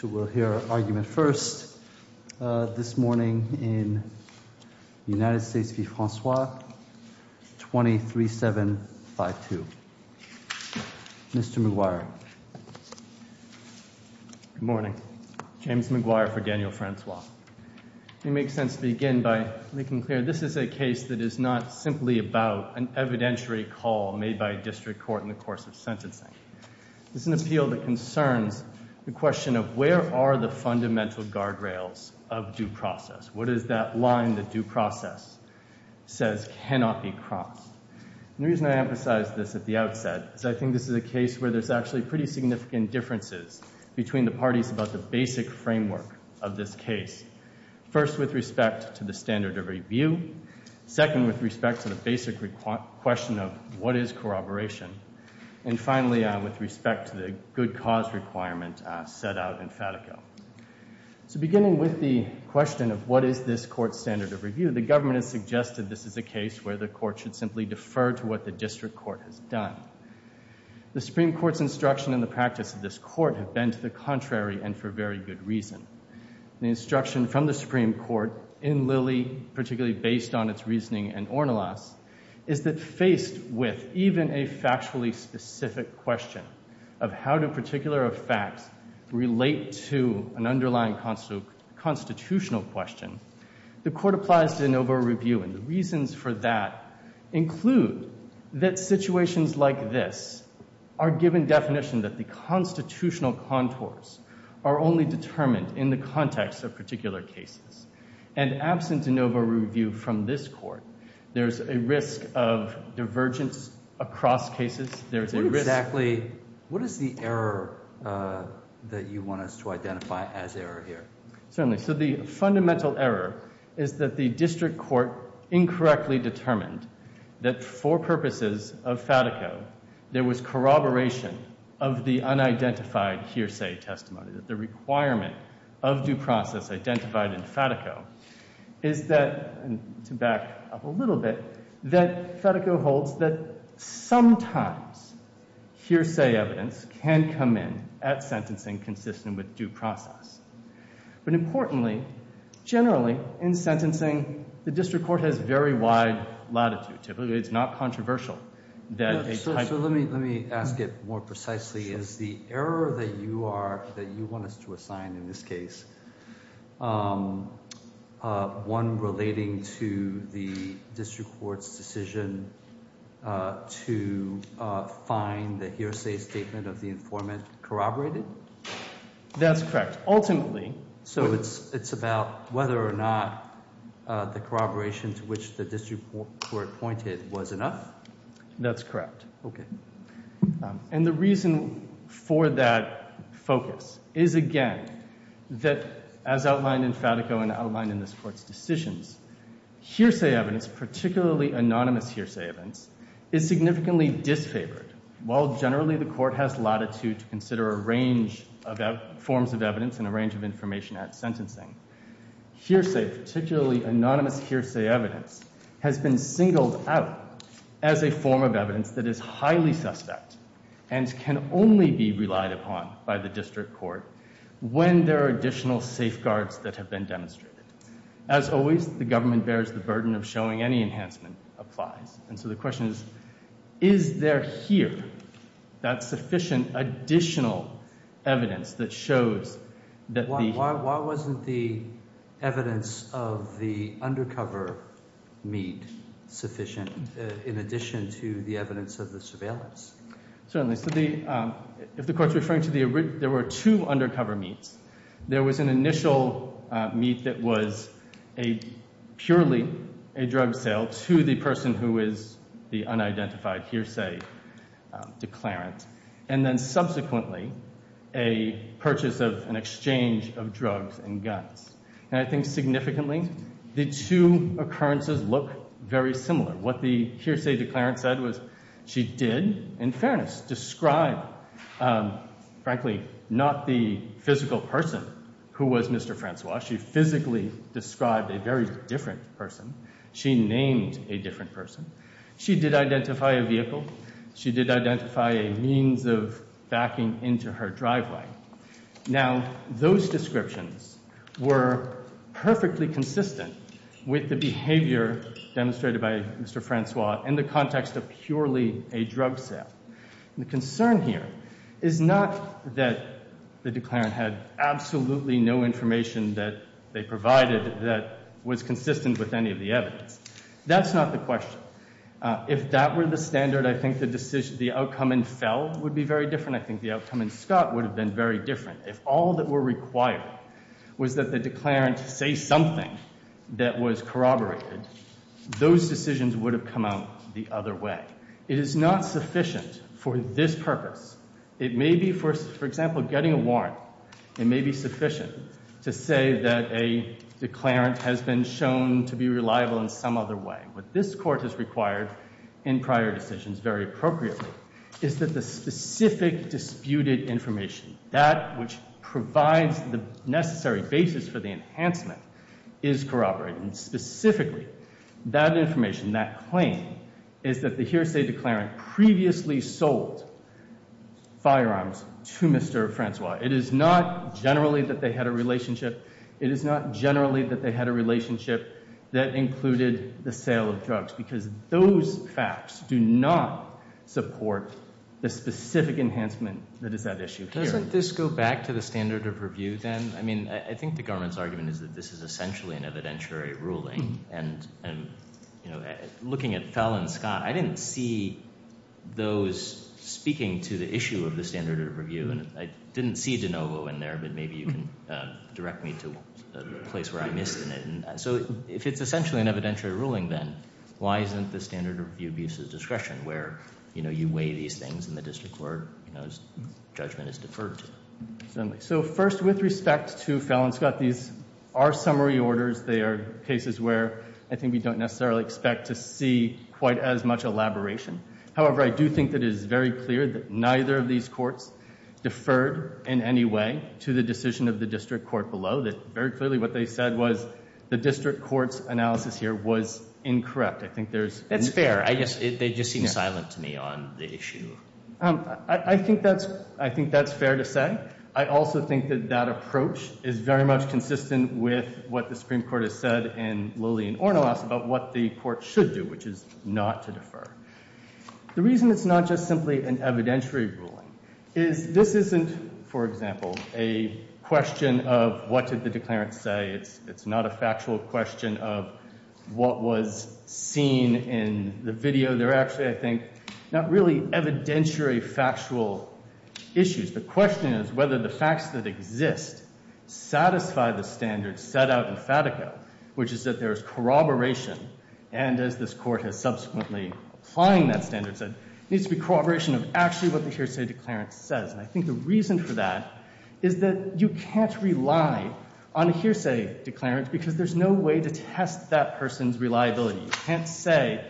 So we'll hear argument first this morning in United States v. Francois, 23752. Mr. McGuire. Good morning. James McGuire for Daniel Francois. It makes sense to begin by making clear this is a case that is not simply about an evidentiary call made by a district court in the course of sentencing. This is an appeal that concerns the question of where are the fundamental guardrails of due process? What is that line that due process says cannot be crossed? The reason I emphasize this at the outset is I think this is a case where there's actually pretty significant differences between the parties about the basic framework of this case, first with respect to the standard of review, second with respect to the basic question of what is corroboration? And finally, with respect to the good cause requirement set out in Fatico. So beginning with the question of what is this court's standard of review, the government has suggested this is a case where the court should simply defer to what the district court has done. The Supreme Court's instruction in the practice of this court have been to the contrary and for very good reason. The instruction from the Supreme Court in Lilly, particularly based on its reasoning in Ornelas, is that faced with even a factually specific question of how do particular facts relate to an underlying constitutional question, the court applies de novo review and the reasons for that include that situations like this are given definition that the constitutional contours are only determined in the context of particular cases. And absent de novo review from this court, there's a risk of divergence across cases. There's a risk... What exactly... what is the error that you want us to identify as error here? Certainly. So the fundamental error is that the district court incorrectly determined that for purposes of Fatico, there was corroboration of the unidentified hearsay testimony, that the requirement of due process identified in Fatico is that, to back up a little bit, that Fatico holds that sometimes hearsay evidence can come in at sentencing consistent with due process. But importantly, generally, in sentencing, the district court has very wide latitude. It's not controversial that... In this case, one relating to the district court's decision to find the hearsay statement of the informant corroborated? That's correct. Ultimately... So it's about whether or not the corroboration to which the district court pointed was enough? That's correct. Okay. And the reason for that focus is, again, that, as outlined in Fatico and outlined in this Court's decisions, hearsay evidence, particularly anonymous hearsay evidence, is significantly disfavored. While generally the Court has latitude to consider a range of forms of evidence and a range of information at sentencing, hearsay, particularly anonymous hearsay evidence, has been singled out as a form of evidence that is highly suspect and can only be relied upon by the district court when there are additional safeguards that have been demonstrated. As always, the government bears the burden of showing any enhancement applies. And so the question is, is there here that sufficient additional evidence that shows that the... sufficient in addition to the evidence of the surveillance? Certainly. So the... If the Court's referring to the... There were two undercover meets. There was an initial meet that was a... purely a drug sale to the person who is the unidentified hearsay declarant, and then subsequently a purchase of... an exchange of drugs and guns. And I think significantly the two occurrences look very similar. What the hearsay declarant said was she did, in fairness, describe, frankly, not the physical person who was Mr. Francois. She physically described a very different person. She named a different person. She did identify a vehicle. She did identify a means of backing into her driveway. Now, those descriptions were perfectly consistent with the behavior demonstrated by Mr. Francois in the context of purely a drug sale. The concern here is not that the declarant had absolutely no information that they provided that was consistent with any of the evidence. That's not the question. If that were the standard, I think the decision... the outcome in Fell would be very different. And I think the outcome in Scott would have been very different. If all that were required was that the declarant say something that was corroborated, those decisions would have come out the other way. It is not sufficient for this purpose. It may be for... for example, getting a warrant, it may be sufficient to say that a declarant has been shown to be reliable in some other way. What this Court has required in prior decisions, very appropriately, is that the specific disputed information, that which provides the necessary basis for the enhancement, is corroborated. Specifically, that information, that claim, is that the hearsay declarant previously sold firearms to Mr. Francois. It is not generally that they had a relationship. It is not generally that they had a relationship that included the sale of drugs, because those facts do not support the specific enhancement that is at issue here. Doesn't this go back to the standard of review then? I mean, I think the government's argument is that this is essentially an evidentiary ruling. And, you know, looking at Fell and Scott, I didn't see those speaking to the issue of the standard of review. And I didn't see DeNovo in there, but maybe you can direct me to a place where I missed it. So if it's essentially an evidentiary ruling then, why isn't the standard of review at the discretion where, you know, you weigh these things in the district court, you know, as judgment is deferred to? Certainly. So first, with respect to Fell and Scott, these are summary orders. They are cases where I think we don't necessarily expect to see quite as much elaboration. However, I do think that it is very clear that neither of these courts deferred in any way to the decision of the district court below. Very clearly what they said was the district court's analysis here was incorrect. I think there's— That's fair. They just seem silent to me on the issue. I think that's fair to say. I also think that that approach is very much consistent with what the Supreme Court has The reason it's not just simply an evidentiary ruling is this isn't, for example, a question of what did the declarant say. It's not a factual question of what was seen in the video. They're actually, I think, not really evidentiary factual issues. The question is whether the facts that exist satisfy the standards set out in Fatico, which is that there's corroboration, and as this Court has subsequently applying that standard set, needs to be corroboration of actually what the hearsay declarant says. And I think the reason for that is that you can't rely on a hearsay declarant because there's no way to test that person's reliability. You can't say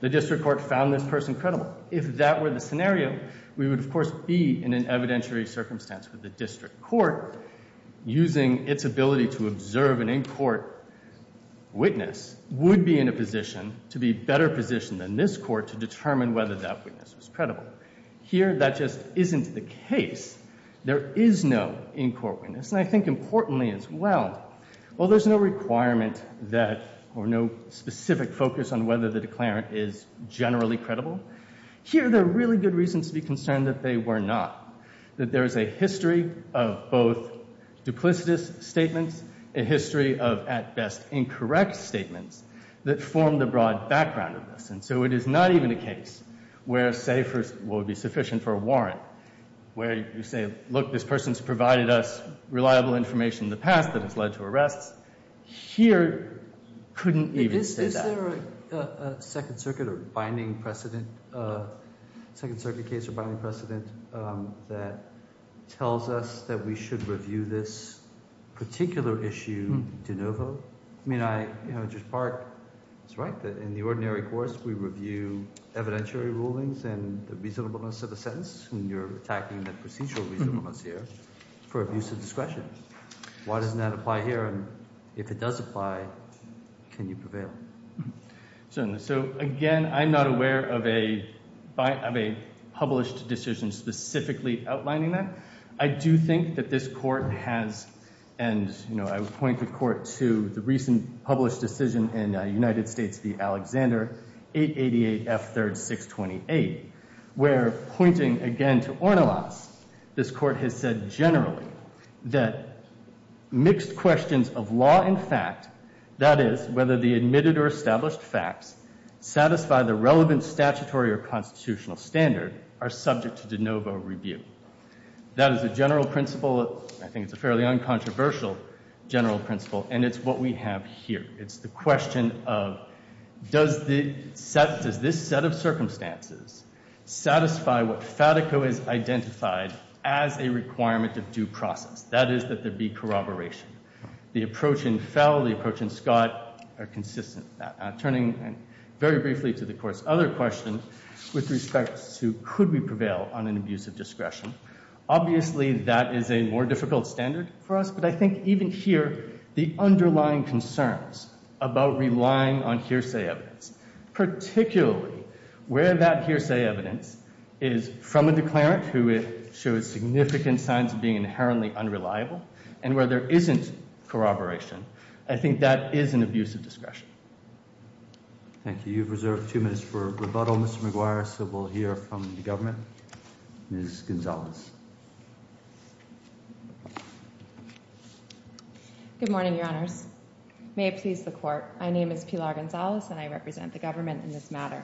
the district court found this person credible. If that were the scenario, we would, of course, be in an evidentiary circumstance where the district court, using its ability to observe an in-court witness, would be in a position to be better positioned than this Court to determine whether that witness was credible. Here, that just isn't the case. There is no in-court witness, and I think importantly as well, while there's no requirement that or no specific focus on whether the declarant is generally credible, here there are really good reasons to be concerned that they were not, that there is a history of both duplicitous statements, a history of, at best, incorrect statements that form the broad background of this. And so it is not even a case where a hearsay would be sufficient for a warrant, where you say, look, this person's provided us reliable information in the past that has led to arrests. Here, you couldn't even say that. Is there a Second Circuit or binding precedent, a Second Circuit case or binding precedent that tells us that we should review this particular issue de novo? I mean, I, you know, Judge Park is right that in the ordinary course, we review evidentiary rulings and the reasonableness of a sentence when you're attacking the procedural reasonableness here for abuse of discretion. Why doesn't that apply here? And if it does apply, can you prevail? So, so again, I'm not aware of a, of a published decision specifically outlining that. I do think that this court has, and you know, I would point the court to the recent published decision in United States v. Alexander, 888 F 3rd 628, where pointing again to Ornelas, this court has said generally that mixed questions of law and fact, that is, whether the admitted or established facts satisfy the relevant statutory or constitutional standard, are subject to de novo review. That is a general principle, I think it's a fairly uncontroversial general principle, and it's what we have here. It's the question of does the, does this set of circumstances satisfy what FATICO has identified as a requirement of due process, that is, that there be corroboration. The approach in Fell, the approach in Scott are consistent with that. Turning very briefly to the court's other questions with respect to could we prevail on an abuse of discretion, obviously that is a more difficult standard for us, but I think even here, the underlying concerns about relying on hearsay evidence, particularly where that hearsay evidence is from a declarant who shows significant signs of being inherently unreliable, and where there isn't corroboration, I think that is an abuse of discretion. Thank you. You've reserved two minutes for rebuttal, Mr. McGuire, so we'll hear from the government. Ms. Gonzalez. May it please the court. My name is Pilar Gonzalez, and I represent the government in this matter.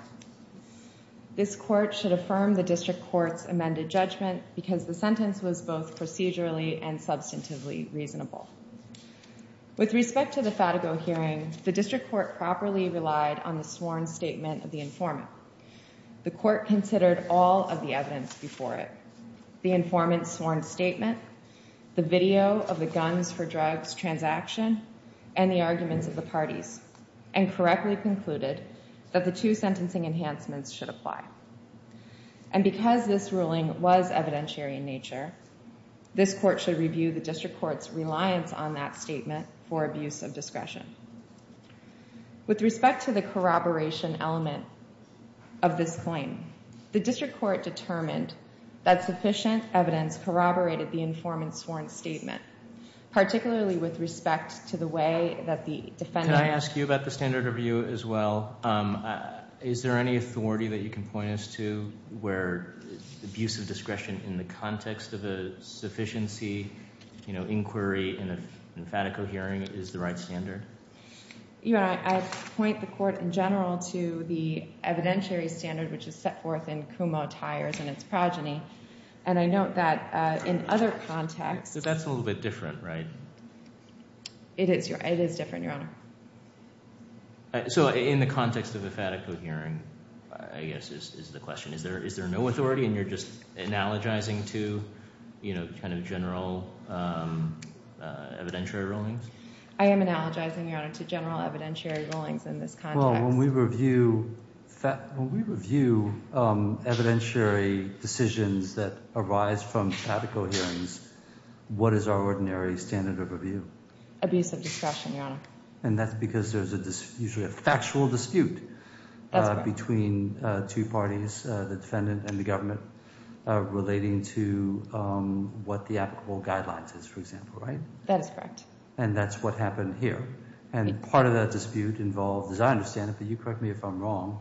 This court should affirm the district court's amended judgment because the sentence was both procedurally and substantively reasonable. With respect to the FATICO hearing, the district court properly relied on the sworn statement of the informant. The court considered all of the evidence before it, the informant's sworn statement, the video of the guns for drugs transaction, and the arguments of the parties, and correctly concluded that the two sentencing enhancements should apply. And because this ruling was evidentiary in nature, this court should review the district court's reliance on that statement for abuse of discretion. With respect to the corroboration element of this claim, the district court determined that sufficient evidence corroborated the informant's sworn statement, particularly with respect to the way that the defendant- Can I ask you about the standard of view as well? Is there any authority that you can point us to where abuse of discretion in the context of a sufficiency inquiry in a FATICO hearing is the right standard? Your Honor, I point the court in general to the evidentiary standard which is set forth in Kumo Tires and its progeny. And I note that in other contexts- That's a little bit different, right? It is different, Your Honor. So in the context of a FATICO hearing, I guess, is the question. Is there no authority and you're just analogizing to kind of general evidentiary rulings? I am analogizing, Your Honor, to general evidentiary rulings in this context. Well, when we review evidentiary decisions that arise from FATICO hearings, what is our ordinary standard of review? Abuse of discretion, Your Honor. And that's because there's usually a factual dispute between two parties, the defendant and the government, relating to what the applicable guidelines is, for example, right? That is correct. And that's what happened here. And part of that dispute involved, as I understand it, but you correct me if I'm wrong,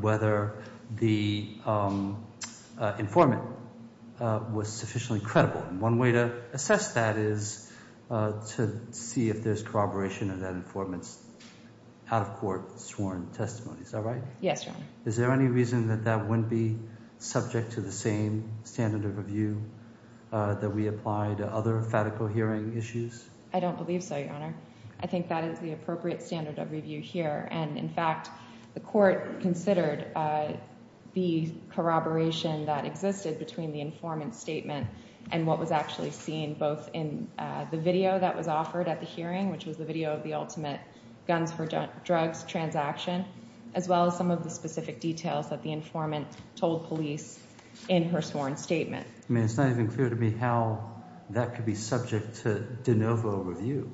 whether the informant was sufficiently credible. One way to assess that is to see if there's corroboration of that informant's out-of-court sworn testimony. Is that right? Yes, Your Honor. Is there any reason that that wouldn't be subject to the same standard of review that we apply to other FATICO hearing issues? I don't believe so, Your Honor. I think that is the appropriate standard of review here. And in fact, the court considered the corroboration that existed between the informant's statement and what was actually seen both in the video that was offered at the hearing, which was the video of the ultimate guns for drugs transaction, as well as some of the specific details that the informant told police in her sworn statement. It's not even clear to me how that could be subject to de novo review,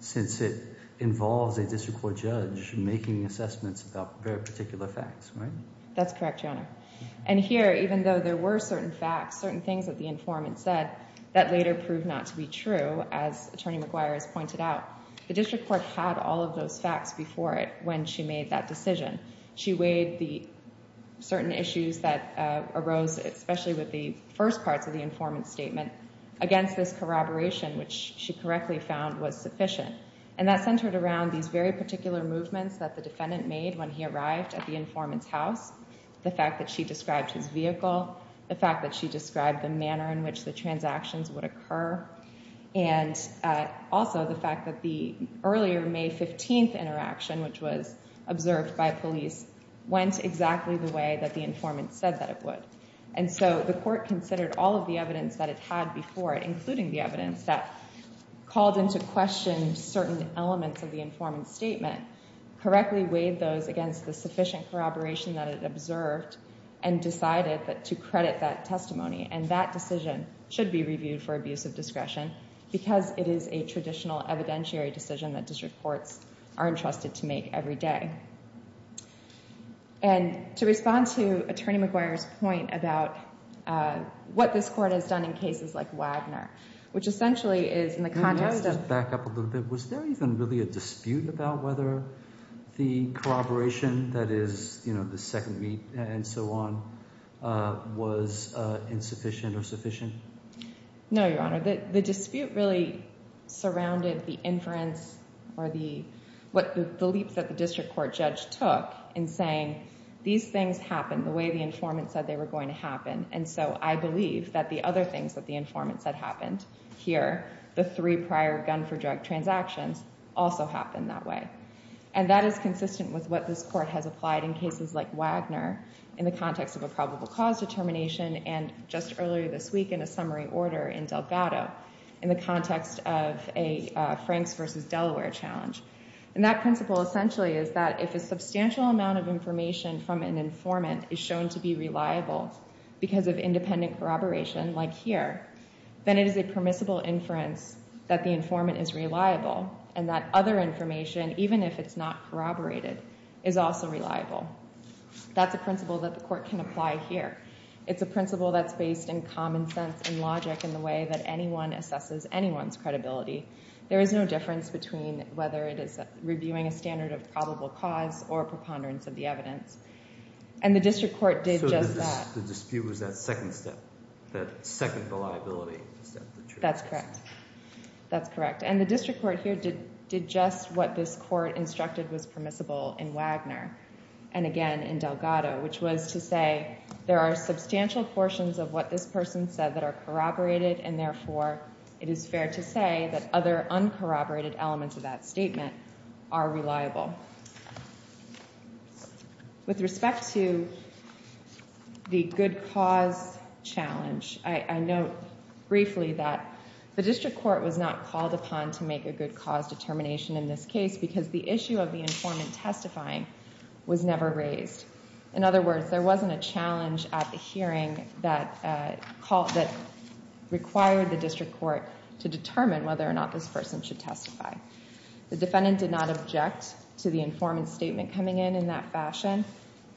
since it involves a district court judge making assessments about very particular facts, right? That's correct, Your Honor. And here, even though there were certain facts, certain things that the informant said that later proved not to be true, as Attorney McGuire has pointed out, the district court had all of those facts before it when she made that decision. She weighed the certain issues that arose, especially with the first parts of the informant's statement, against this corroboration, which she correctly found was sufficient. And that centered around these very particular movements that the defendant made when he arrived at the informant's house, the fact that she described his vehicle, the fact that she described the manner in which the transactions would occur, and also the fact that the earlier May 15th interaction, which was observed by police, went exactly the way that the informant said that it would. And so the court considered all of the evidence that it had before it, including the evidence that called into question certain elements of the informant's statement, correctly weighed those against the sufficient corroboration that it observed, and decided to credit that testimony. And that decision should be reviewed for abuse of discretion, because it is a traditional evidentiary decision that district courts are entrusted to make every day. And to respond to Attorney McGuire's point about what this court has done in cases like Wagner, which essentially is in the context of... Let me just back up a little bit. Was there even really a dispute about whether the corroboration that is the second meet and so on was insufficient or sufficient? No, Your Honor. The dispute really surrounded the inference or the leap that the district court judge took in saying these things happened the way the informant said they were going to happen. And so I believe that the other things that the informant said happened here, the three prior gun for drug transactions, also happened that way. And that is consistent with what this court has applied in cases like Wagner in the context of a probable cause determination, and just earlier this week in a summary order in Delgado in the context of a Franks versus Delaware challenge. And that principle essentially is that if a substantial amount of information from an informant is shown to be reliable because of independent corroboration, like here, then it is a permissible inference that the informant is reliable, and that other information, even if it's not corroborated, is also reliable. That's a principle that the court can apply here. It's a principle that's based in common sense and logic in the way that anyone assesses anyone's credibility. There is no difference between whether it is reviewing a standard of probable cause or preponderance of the evidence. And the district court did just that. So the dispute was that second step, that second reliability step. That's correct. That's correct. And the district court here did just what this court instructed was permissible in Wagner, and again in Delgado, which was to say there are substantial portions of what this person said that are corroborated, and therefore it is fair to say that other uncorroborated elements of that statement are reliable. With respect to the good cause challenge, I note briefly that the district court was not called upon to make a good cause determination in this case because the issue of the informant testifying was never raised. In other words, there wasn't a challenge at the hearing that required the district court to determine whether or not this person should testify. The defendant did not object to the informant's statement coming in in that fashion,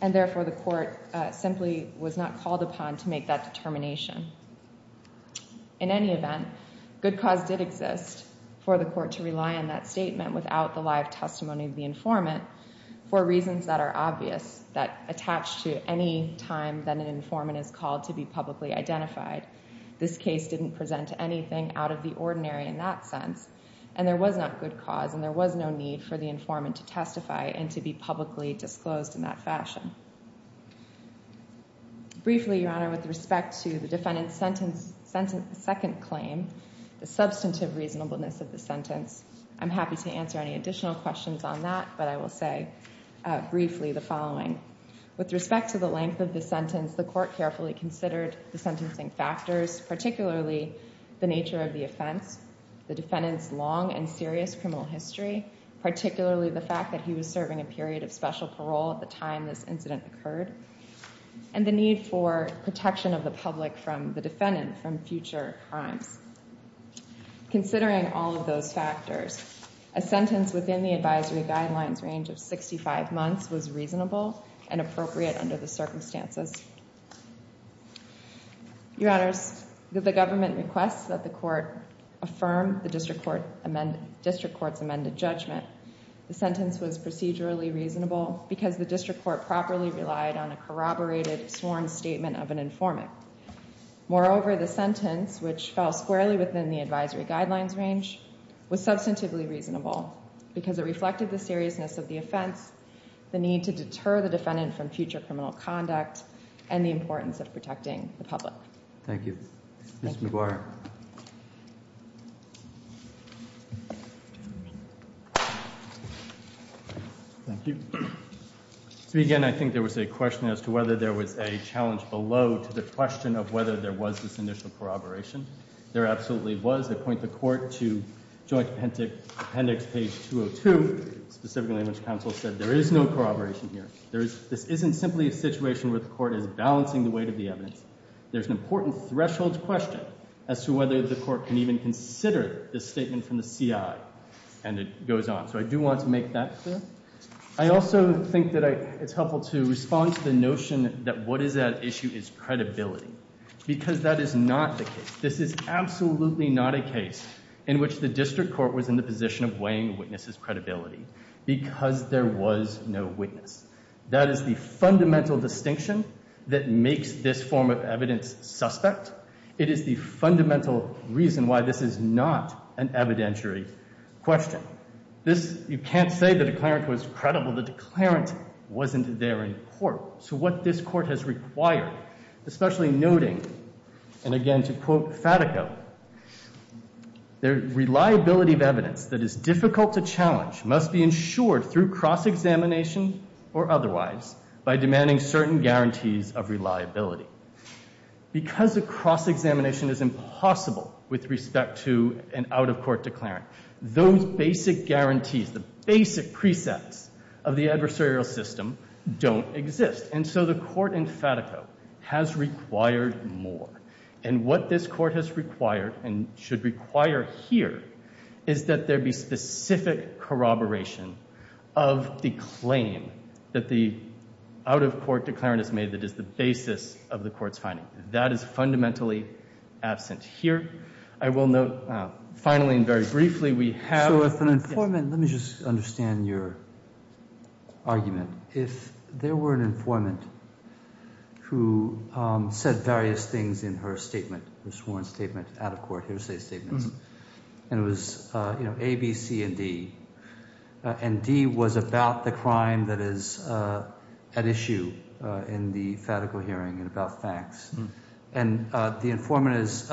and therefore the court simply was not called upon to make that determination. In any event, good cause did exist for the court to rely on that statement without the live testimony of the informant for reasons that are obvious, that attach to any time that an informant is called to be publicly identified. This case didn't present anything out of the ordinary in that sense, and there was not good cause, and there was no need for the informant to testify and to be publicly disclosed in that fashion. Briefly, Your Honor, with respect to the defendant's second claim, the substantive reasonableness of the sentence, I'm happy to answer any additional questions on that, but I will say briefly the following. With respect to the length of the sentence, the court carefully considered the sentencing factors, particularly the nature of the offense, the defendant's long and serious criminal history, particularly the fact that he was serving a period of special parole at the time this incident occurred, and the need for protection of the public from the defendant from future crimes. Considering all of those factors, a sentence within the advisory guidelines range of 65 months was reasonable and appropriate under the circumstances. Your Honors, the government requests that the court affirm the district court's amended judgment. The sentence was procedurally reasonable because the district court properly relied on a corroborated sworn statement of an informant. Moreover, the sentence, which fell squarely within the advisory guidelines range, was substantively reasonable because it reflected the seriousness of the offense, the need to deter the defendant from future criminal conduct, and the importance of protecting the public. Thank you. Thank you. Ms. McGuire. Thank you. To begin, I think there was a question as to whether there was a challenge below to the question of whether there was this initial corroboration. There absolutely was. I point the court to Joint Appendix, page 202, specifically in which counsel said there is no corroboration here. This isn't simply a situation where the court is balancing the weight of the evidence. There's an important threshold question as to whether the court can even consider this statement from the CI. And it goes on. So I do want to make that clear. I also think that it's helpful to respond to the notion that what is at issue is credibility because that is not the case. This is absolutely not a case in which the district court was in the position of weighing witnesses' credibility because there was no witness. That is the fundamental distinction that makes this form of evidence suspect. It is the fundamental reason why this is not an evidentiary question. You can't say the declarant was credible. The declarant wasn't there in court. So what this court has required, especially noting, and again to quote Fatico, the reliability of evidence that is difficult to challenge must be ensured through cross-examination or otherwise by demanding certain guarantees of reliability. Because a cross-examination is impossible with respect to an out-of-court declarant, those basic guarantees, the basic precepts of the adversarial system don't exist. And so the court in Fatico has required more. And what this court has required and should require here is that there be specific corroboration of the claim that the out-of-court declarant has made that is the basis of the court's finding. That is fundamentally absent here. I will note, finally and very briefly, we have- Let me just understand your argument. If there were an informant who said various things in her statement, her sworn statement, out-of-court, hearsay statement, and it was A, B, C, and D, and D was about the crime that is at issue in the Fatico hearing and about facts. And the informant has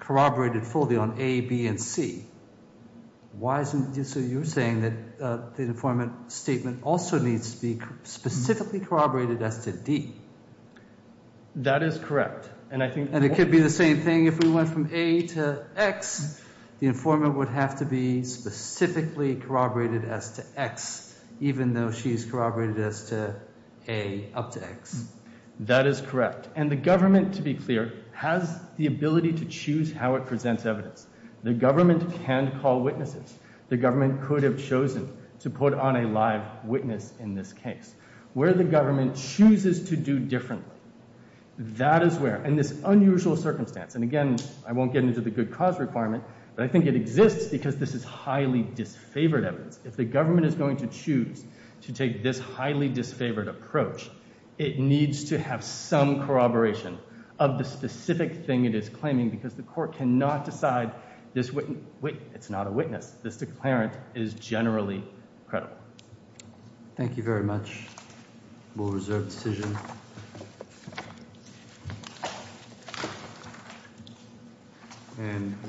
corroborated fully on A, B, and C. Why isn't- So you're saying that the informant statement also needs to be specifically corroborated as to D. That is correct. And I think- And it could be the same thing if we went from A to X. The informant would have to be specifically corroborated as to X, even though she's corroborated as to A up to X. That is correct. And the government, to be clear, has the ability to choose how it presents evidence. The government can call witnesses. The government could have chosen to put on a live witness in this case. Where the government chooses to do differently, that is where, in this unusual circumstance- And again, I won't get into the good cause requirement, but I think it exists because this is highly disfavored evidence. If the government is going to choose to take this highly disfavored approach, it needs to have some corroboration of the specific thing it is claiming because the court cannot decide this wit- Wait, it's not a witness. This declarant is generally credible. Thank you very much. We'll reserve the decision.